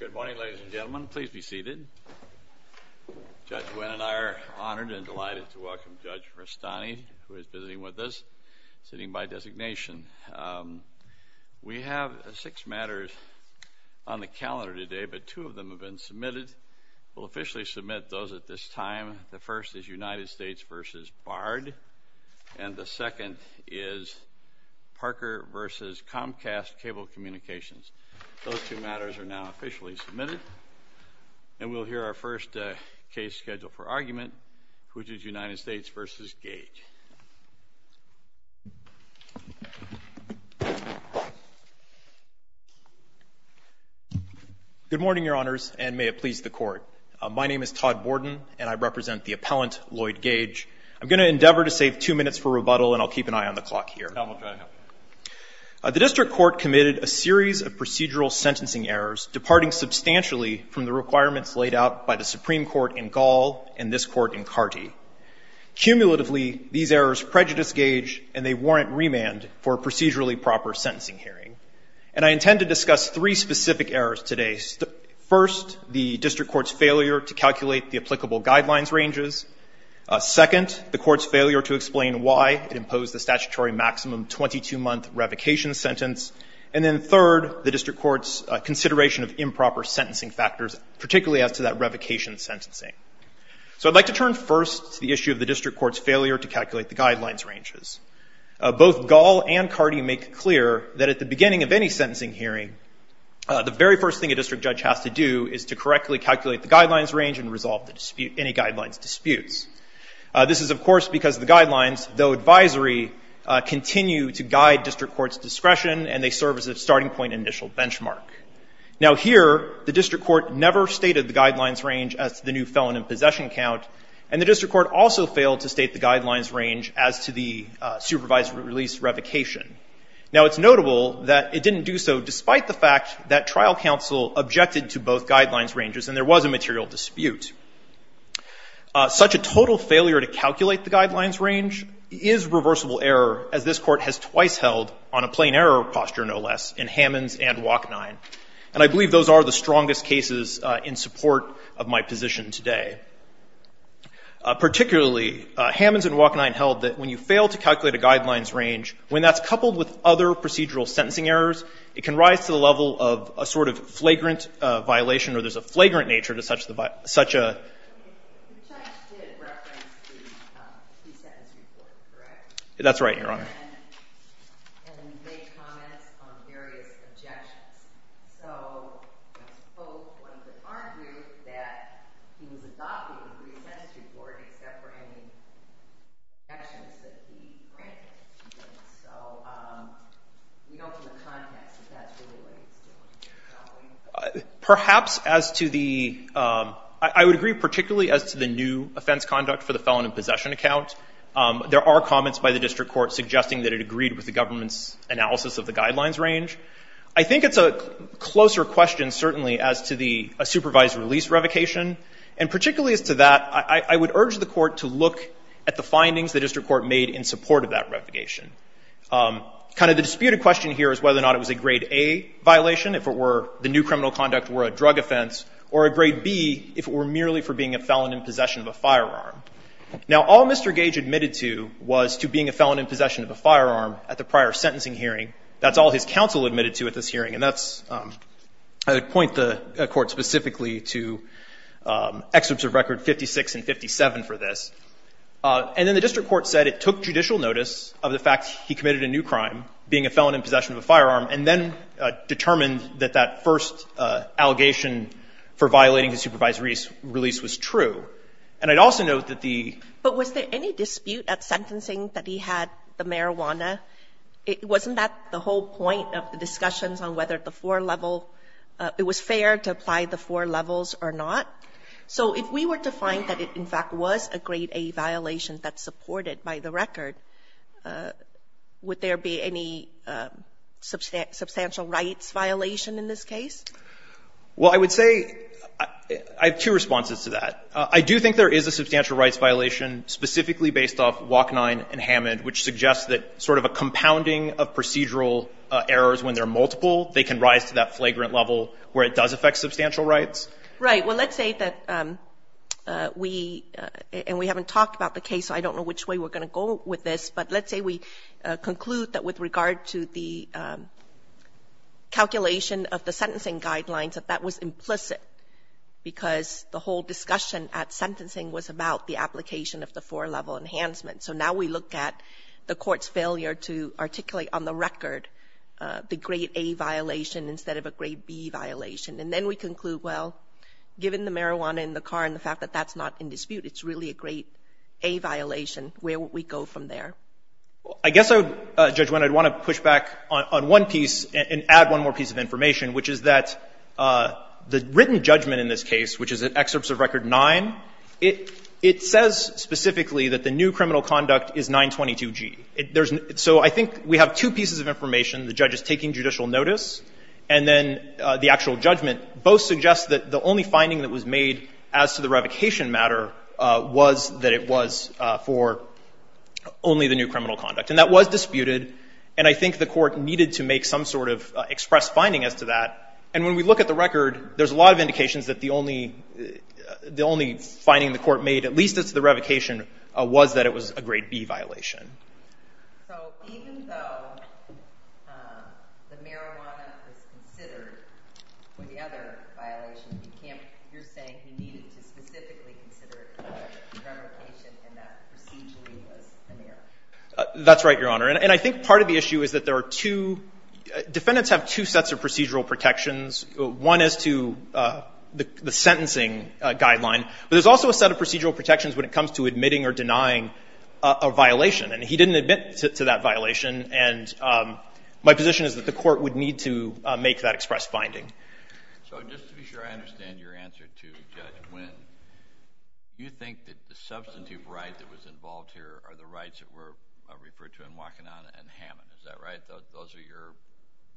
Good morning, ladies and gentlemen. Please be seated. Judge Nguyen and I are honored and delighted to welcome Judge Rastani, who is visiting with us, sitting by designation. We have six matters on the calendar today, but two of them have been submitted. We'll officially submit those at this time. The first is United States v. Bard, and the second is Parker v. Comcast Cable Communications. Those two matters are now officially submitted, and we'll hear our first case schedule for argument, which is United States v. Gage. Good morning, Your Honors, and may it please the Court. My name is Todd Borden, and I represent the appellant, Lloyd Gage. I'm going to endeavor to save two minutes for rebuttal, and I'll keep an eye on the clock here. The district court committed a series of procedural sentencing errors, departing substantially from the requirements laid out by the Supreme Court in Gall and this Court in Carty. Cumulatively, these errors prejudice Gage, and they warrant remand for a procedurally proper sentencing hearing. And I intend to discuss three specific errors today. First, the district court's failure to calculate the applicable guidelines ranges. Second, the court's failure to explain why it imposed the statutory maximum 22-month revocation sentence. And then third, the district court's consideration of improper sentencing factors, particularly as to that revocation sentencing. So I'd like to turn first to the issue of the district court's failure to calculate the guidelines ranges. Both Gall and Carty make clear that at the beginning of any sentencing hearing, the very first thing a district judge has to do is to correctly calculate the guidelines range and resolve any guidelines disputes. This is, of course, because the guidelines, though advisory, continue to guide district court's discretion, and they serve as a starting point initial benchmark. Now here, the district court never stated the guidelines range as to the new felon in possession count, and the district court also failed to state the guidelines range as to the supervised release revocation. Now it's notable that it didn't do so despite the fact that trial counsel objected to both guidelines ranges, and there was a material dispute. Such a total failure to calculate the guidelines range is reversible error, as this court has twice held on a plain error posture, no less, in Hammons and Wachnine. And I believe those are the strongest cases in support of my position today. Particularly, Hammons and Wachnine held that when you fail to calculate a guidelines range, when that's coupled with other procedural sentencing errors, it can rise to the level of a sort of flagrant violation, or there's a flagrant nature to such a violation, which I actually did reference the pre-sentence report, correct? That's right, Your Honor. And then you made comments on various objections. So both ones would argue that he was adopting the pre-sentence report except for any objections that he granted. So we know from the context that that's really what he's doing, probably. Perhaps as to the, I would agree particularly as to the new offense conduct for the felon in possession account, there are comments by the district court suggesting that it agreed with the government's analysis of the guidelines range. I think it's a closer question certainly as to the supervised release revocation. And particularly as to that, I would urge the court to look at the findings the district court made in support of that revocation. Kind of the disputed question here is whether or not it was a grade A violation, if it were the new criminal conduct were a drug offense, or a grade B if it were merely for being a felon in possession of a firearm. Now, all Mr. Gage admitted to was to being a felon in possession of a firearm at the prior sentencing hearing. That's all his counsel admitted to at this hearing. And that's, I would point the court specifically to excerpts of record 56 and 57 for this. And then the district court said it took judicial notice of the fact he committed a new crime, being a felon in possession of a firearm, and then determined that that first allegation for violating the supervised release was true. And I'd also note that the ---- But was there any dispute at sentencing that he had the marijuana? It wasn't at the whole point of the discussions on whether the four level, it was fair to apply the four levels or not. So if we were to find that it in fact was a grade A violation that's supported by the record, would there be any substantial rights violation in this case? Well, I would say, I have two responses to that. I do think there is a substantial rights violation specifically based off WAC-9 and Hammond, which suggests that sort of a compounding of procedural errors when they're multiple, they can rise to that flagrant level where it does affect substantial rights. Right. Well, let's say that we, and we haven't talked about the case, so I don't know which way we're going to go with this, but let's say we conclude that with regard to the calculation of the sentencing guidelines, that that was implicit because the whole discussion at sentencing was about the application of the four level enhancement. So now we look at the court's failure to articulate on the record the grade A violation instead of a grade B violation. And then we conclude, well, given the marijuana in the car and the fact that that's not in dispute, it's really a grade A violation, where would we go from there? I guess I would, Judge Winn, I'd want to push back on one piece and add one more piece of information, which is that the written judgment in this case, which is in Excerpts of Record 9, it says specifically that the new criminal conduct is 922G. So I think we have two pieces of information. The judge is taking judicial notice and then the actual judgment both suggest that the only finding that was made as to the revocation matter was that it was for only the new criminal conduct. And that was disputed, and I think the court needed to make some sort of expressed finding as to that. And when we look at the record, there's a lot of indications that the only finding the court made, at least as to the revocation, was that it was a grade B violation. So even though the marijuana is considered for the other violation, you're saying you needed to specifically consider it for the revocation and that procedurally was an error? That's right, Your Honor. And I think part of the issue is that there are two defendants have two sets of procedural protections. One is to the sentencing guideline, but there's also a set of procedural protections when it comes to admitting or denying a violation. And he didn't admit to that violation, and my position is that the court would need to make that expressed finding. So just to be sure I understand your answer to Judge Wynn, do you think that the substantive right that was involved here are the rights that were referred to in the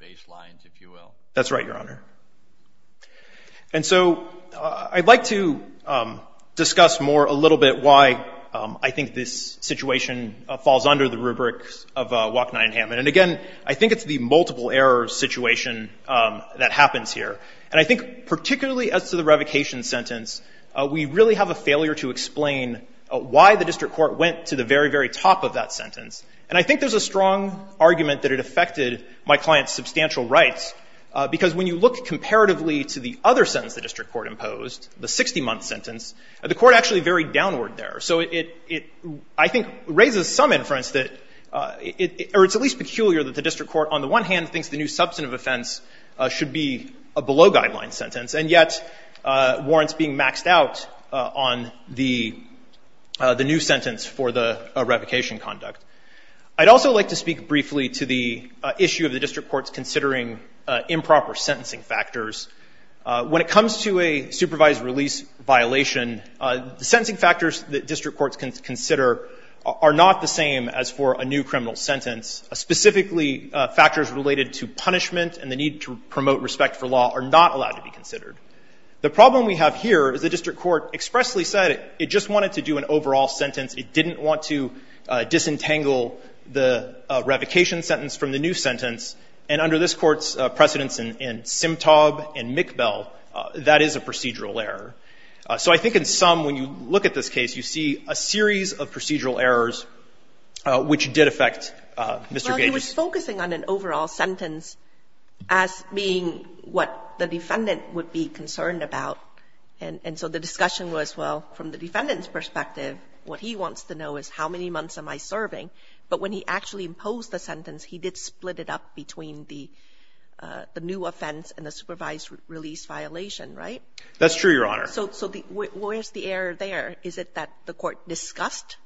baseline, if you will? That's right, Your Honor. And so I'd like to discuss more a little bit why I think this situation falls under the rubrics of Wok, Nye, and Hammond. And again, I think it's the multiple error situation that happens here. And I think particularly as to the revocation sentence, we really have a failure to explain why the district court went to the very, very top of that sentence. And I think there's a strong argument that it affected my client's substantial rights, because when you look comparatively to the other sentence the district court imposed, the 60-month sentence, the court actually varied downward there. So it, I think, raises some inference that, or it's at least peculiar that the district court on the one hand thinks the new substantive offense should be a below-guideline sentence, and yet warrants being maxed out on the new sentence for the revocation conduct. I'd also like to speak briefly to the issue of the district courts considering improper sentencing factors. When it comes to a supervised release violation, the sentencing factors that district courts consider are not the same as for a new criminal sentence. Specifically, factors related to punishment and the need to The problem we have here is the district court expressly said it just wanted to do an overall sentence. It didn't want to disentangle the revocation sentence from the new sentence. And under this Court's precedence in Simtob and McBell, that is a procedural error. So I think in sum, when you look at this case, you see a series of procedural errors which did affect Mr. Gage's case. Well, he was focusing on an overall sentence as being what the defendant would be concerned about. And so the discussion was, well, from the defendant's perspective, what he wants to know is how many months am I serving? But when he actually imposed the sentence, he did split it up between the new offense and the supervised release violation, right? That's true, Your Honor. So where's the error there? Is it that the Court discussed,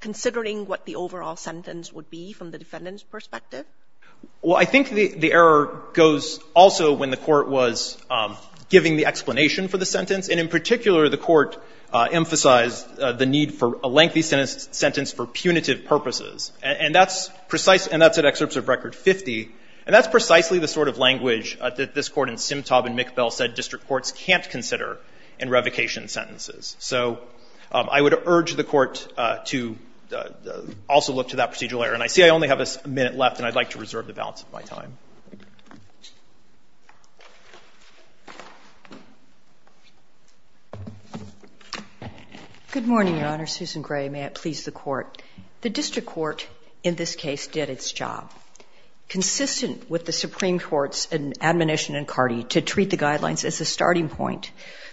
considering what the overall sentence would be from the defendant's perspective? Well, I think the error goes also when the Court was giving the explanation for the sentence, and in particular, the Court emphasized the need for a lengthy sentence for punitive purposes. And that's precise — and that's in Excerpts of Record 50, and that's precisely the sort of language that this Court in Simtob and McBell said district courts can't consider in revocation sentences. So I would urge the Court to also look to that procedural error. And I see I only have a minute left, and I'd like to reserve the balance of my time. Good morning, Your Honor. Susan Gray, may it please the Court. The district court in this case did its job. Consistent with the Supreme Court's admonition in Cardi to treat the guidelines as a starting point,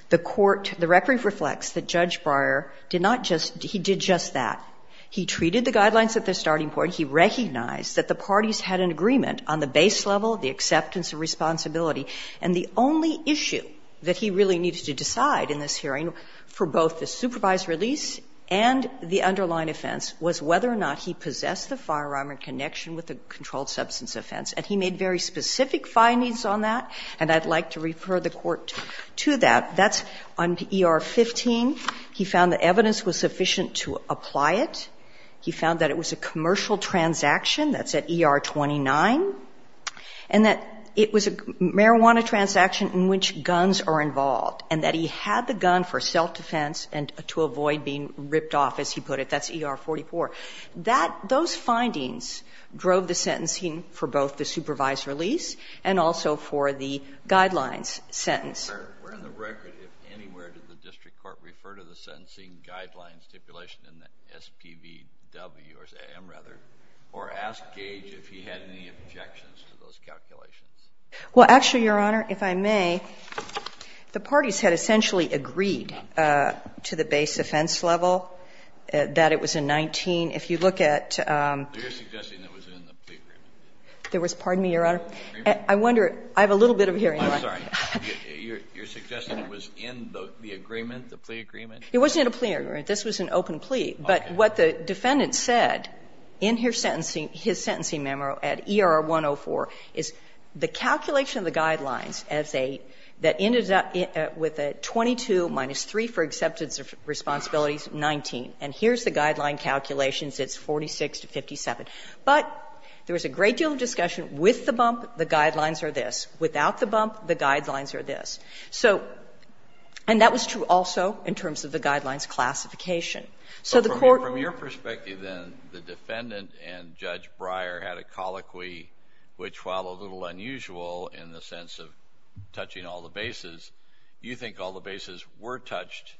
the court — the record reflects that Judge Breyer did not just — he did just that. He treated the guidelines at the starting point. He recognized that the parties had an agreement on the base level, the acceptance of responsibility. And the only issue that he really needed to decide in this hearing for both the supervised release and the underlying offense was whether or not he possessed the firearm in connection with the controlled substance offense. And he made very specific findings on that, and I'd like to refer the Court to that. That's on ER-15. He found that evidence was sufficient to apply it. He found that it was a commercial transaction. That's at ER-29. And that it was a marijuana transaction in which guns are involved, and that he had the gun for self-defense and to avoid being ripped off, as he put it. That's ER-44. That — those findings drove the sentencing for both the supervised release and also for the guidelines sentence. Well, actually, Your Honor, if I may, the parties had essentially agreed to the base offense level, that it was in 19. If you look at — You're suggesting it was in the plea agreement. There was — pardon me, Your Honor. I wonder — I have a little bit of hearing loss. It was in the plea agreement. It was in the plea agreement. You're suggesting it was in the agreement, the plea agreement? It wasn't in a plea agreement. This was an open plea. But what the defendant said in his sentencing memo at ER-104 is the calculation of the guidelines as a — that ended up with a 22 minus 3 for acceptance of responsibilities, 19. And here's the guideline calculations. It's 46 to 57. But there was a great deal of discussion. With the bump, the guidelines are this. Without the bump, the guidelines are this. So — and that was true also in terms of the guidelines classification. So the court — But from your perspective, then, the defendant and Judge Breyer had a colloquy which, while a little unusual in the sense of touching all the bases, you think all the bases were touched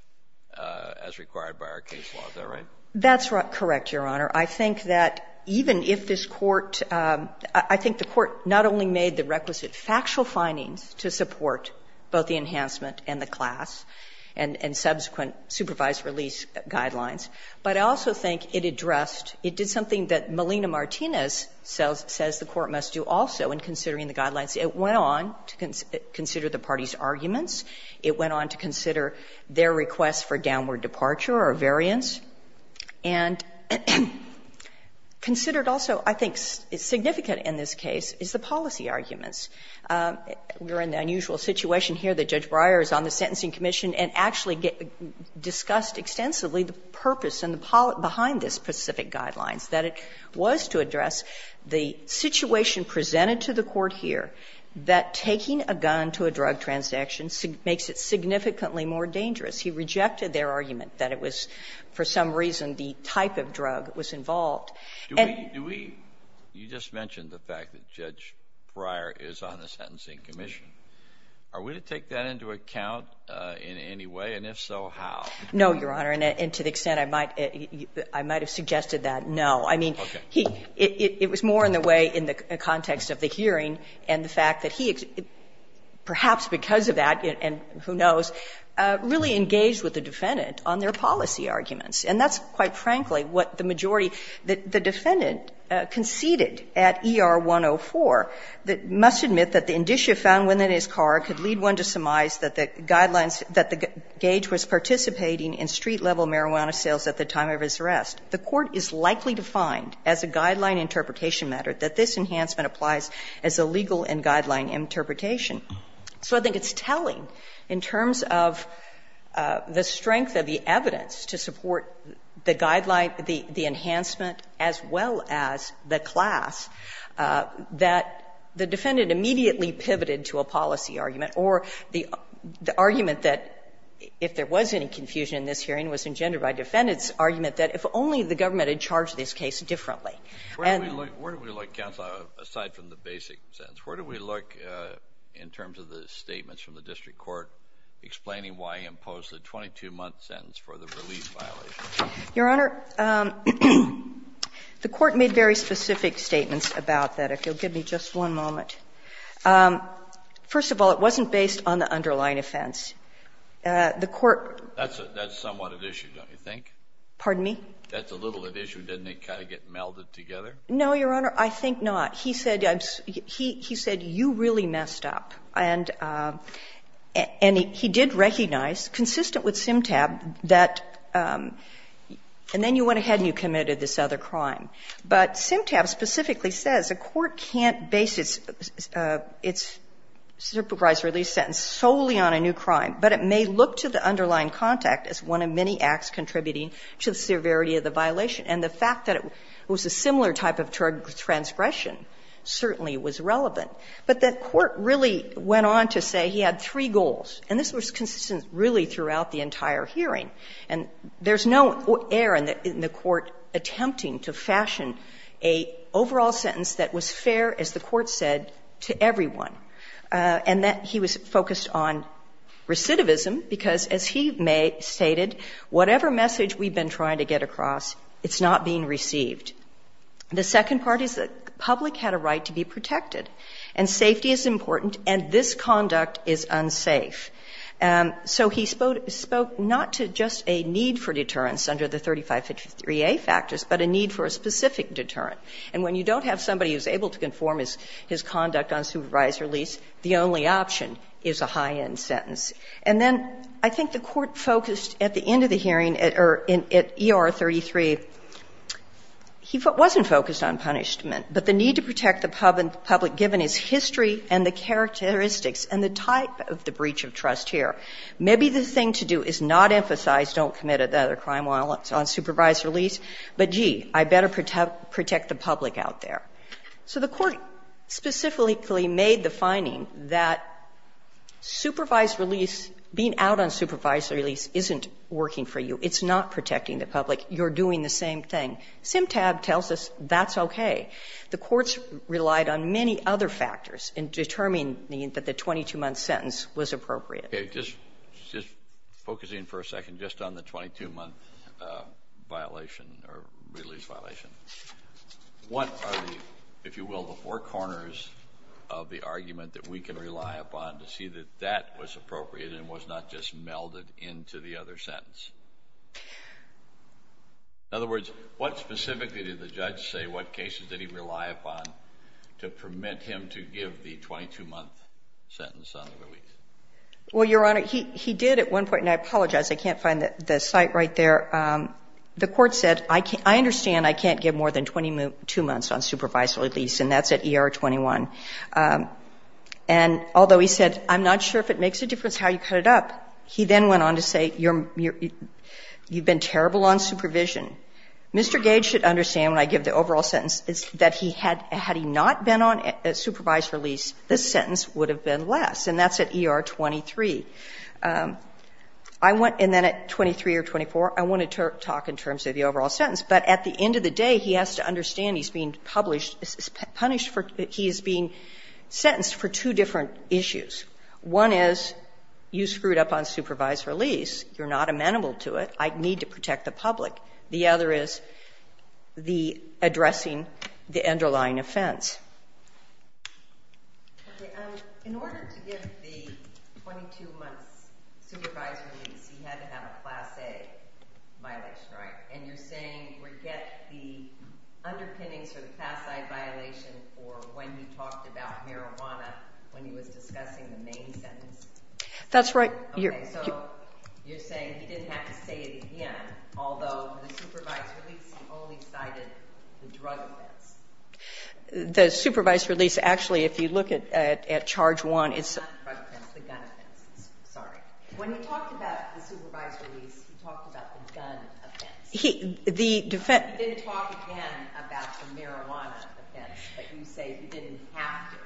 as required by our case law. Is that right? That's correct, Your Honor. I think that even if this Court — I think the Court not only made the requisite factual findings to support both the enhancement and the class and subsequent supervised release guidelines, but I also think it addressed — it did something that Melina Martinez says the Court must do also in considering the guidelines. It went on to consider the parties' arguments. It went on to consider their requests for downward departure or variance. And considered also, I think, significant in this case is the policy arguments. We're in the unusual situation here that Judge Breyer is on the Sentencing Commission and actually discussed extensively the purpose and the — behind this specific guidelines, that it was to address the situation presented to the Court here that taking a gun to a drug transaction makes it significantly more dangerous. He rejected their argument that it was for some reason the type of drug was involved. Do we — you just mentioned the fact that Judge Breyer is on the Sentencing Commission. Are we to take that into account in any way? And if so, how? No, Your Honor. And to the extent I might — I might have suggested that, no. I mean, he — it was more in the way in the context of the hearing and the fact that he, perhaps because of that and who knows, really engaged with the defendant on their policy arguments. And that's, quite frankly, what the majority — the defendant conceded at ER-104 that must admit that the indicia found within his car could lead one to surmise that the guidelines — that the gauge was participating in street-level marijuana sales at the time of his arrest. The Court is likely to find, as a guideline interpretation matter, that this enhancement applies as a legal and guideline interpretation. So I think it's telling in terms of the strength of the evidence to support the guideline, the enhancement, as well as the class, that the defendant immediately pivoted to a policy argument or the argument that, if there was any confusion in this hearing, was engendered by defendant's argument that if only the government had charged this case differently. And — Where do we look, Counsel, aside from the basic sentence? Where do we look in terms of the statements from the district court explaining why he imposed a 22-month sentence for the release violation? Your Honor, the Court made very specific statements about that. If you'll give me just one moment. First of all, it wasn't based on the underlying offense. The Court — That's somewhat at issue, don't you think? Pardon me? That's a little at issue. Doesn't it kind of get melded together? No, Your Honor, I think not. He said you really messed up. And he did recognize, consistent with Simtab, that — and then you went ahead and you committed this other crime. But Simtab specifically says a court can't base its supervised release sentence solely on a new crime, but it may look to the underlying contact as one of many acts contributing to the severity of the violation. And the fact that it was a similar type of transgression certainly was relevant. But the Court really went on to say he had three goals, and this was consistent really throughout the entire hearing. And there's no error in the Court attempting to fashion an overall sentence that was fair, as the Court said, to everyone, and that he was focused on recidivism because, as he stated, whatever message we've been trying to get across, it's not being received. The second part is the public had a right to be protected. And safety is important, and this conduct is unsafe. So he spoke not to just a need for deterrence under the 3553A factors, but a need for a specific deterrent. And when you don't have somebody who's able to conform his conduct on supervised release, the only option is a high-end sentence. And then I think the Court focused at the end of the hearing, or at ER 33, he wasn't focused on punishment, but the need to protect the public given his history and the characteristics and the type of the breach of trust here. Maybe the thing to do is not emphasize don't commit another crime while it's on supervised release, but, gee, I better protect the public out there. So the Court specifically made the finding that supervised release, being out on supervised release, isn't working for you. It's not protecting the public. You're doing the same thing. SimTab tells us that's okay. The courts relied on many other factors in determining that the 22-month sentence was appropriate. Kennedy. Just focusing for a second just on the 22-month violation or release violation, what are the, if you will, the four corners of the argument that we can rely upon to see that that was appropriate and was not just melded into the other sentence? In other words, what specifically did the judge say, what cases did he rely upon to permit him to give the 22-month sentence on the release? Well, Your Honor, he did at one point, and I apologize. I can't find the site right there. The court said, I understand I can't give more than 22 months on supervised release, and that's at ER 21. And although he said, I'm not sure if it makes a difference how you cut it up, he then went on to say, you're, you've been terrible on supervision. Mr. Gage should understand when I give the overall sentence that he had, had he not been on supervised release, this sentence would have been less, and that's at ER 23. I want, and then at 23 or 24, I want to talk in terms of the overall sentence. But at the end of the day, he has to understand he's being published, punished for, he is being sentenced for two different issues. One is, you screwed up on supervised release. You're not amenable to it. I need to protect the public. The other is the addressing the underlying offense. In order to give the 22 months supervised release, he had to have a class A violation, right? And you're saying, forget the underpinnings for the class I violation for when he talked about marijuana, when he was discussing the main sentence? That's right. So you're saying he didn't have to say it again, although for the supervised release, he only cited the drug offense. The supervised release, actually, if you look at charge one, it's the gun offense. Sorry. When he talked about the supervised release, he talked about the gun offense. He, the defense. He didn't talk again about the marijuana offense, but you say he didn't have to.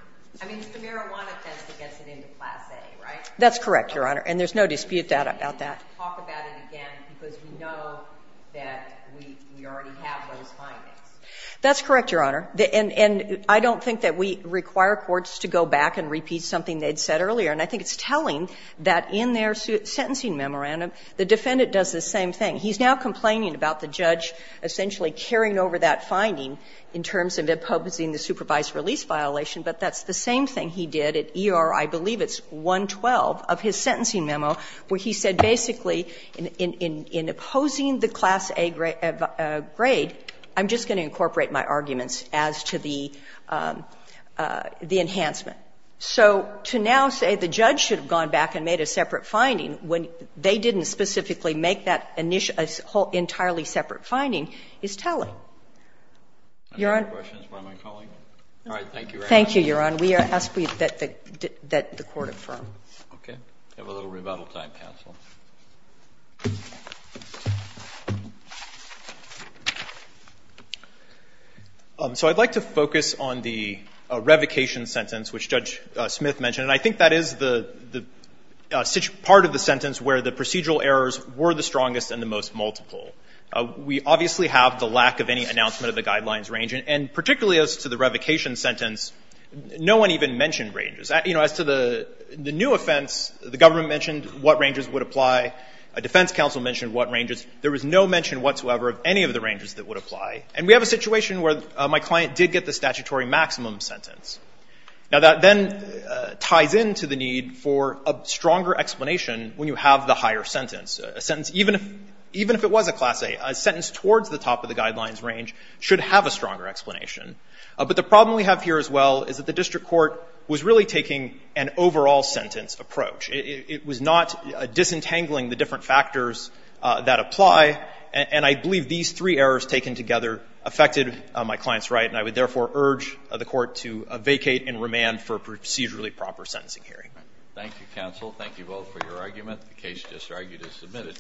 I mean, it's the marijuana offense that gets it into class A, right? That's correct, Your Honor, and there's no dispute about that. He didn't talk about it again because we know that we already have those findings. That's correct, Your Honor. And I don't think that we require courts to go back and repeat something they'd said earlier, and I think it's telling that in their sentencing memorandum, the defendant does the same thing. He's now complaining about the judge essentially carrying over that finding in terms of imposing the supervised release violation, but that's the same thing he did at E.R. I believe it's 112 of his sentencing memo, where he said basically, in opposing the class A grade, I'm just going to incorporate my arguments as to the enhancement. So to now say the judge should have gone back and made a separate finding when they didn't specifically make that entirely separate finding is telling. Your Honor. I have no questions. Why am I calling? All right. Thank you very much. Thank you, Your Honor. Okay. We have a little rebuttal time, counsel. So I'd like to focus on the revocation sentence, which Judge Smith mentioned, and I think that is the part of the sentence where the procedural errors were the strongest and the most multiple. We obviously have the lack of any announcement of the guidelines range, and particularly as to the revocation sentence, no one even mentioned ranges. As to the new offense, the government mentioned what ranges would apply. A defense counsel mentioned what ranges. There was no mention whatsoever of any of the ranges that would apply. And we have a situation where my client did get the statutory maximum sentence. Now, that then ties into the need for a stronger explanation when you have the higher sentence. A sentence, even if it was a class A, a sentence towards the top of the guidelines range should have a stronger explanation. But the problem we have here as well is that the district court was really taking an overall sentence approach. It was not disentangling the different factors that apply, and I believe these three errors taken together affected my client's right, and I would therefore urge the court to vacate and remand for a procedurally proper sentencing hearing. Thank you, counsel. Thank you both for your argument. The case just argued is submitted.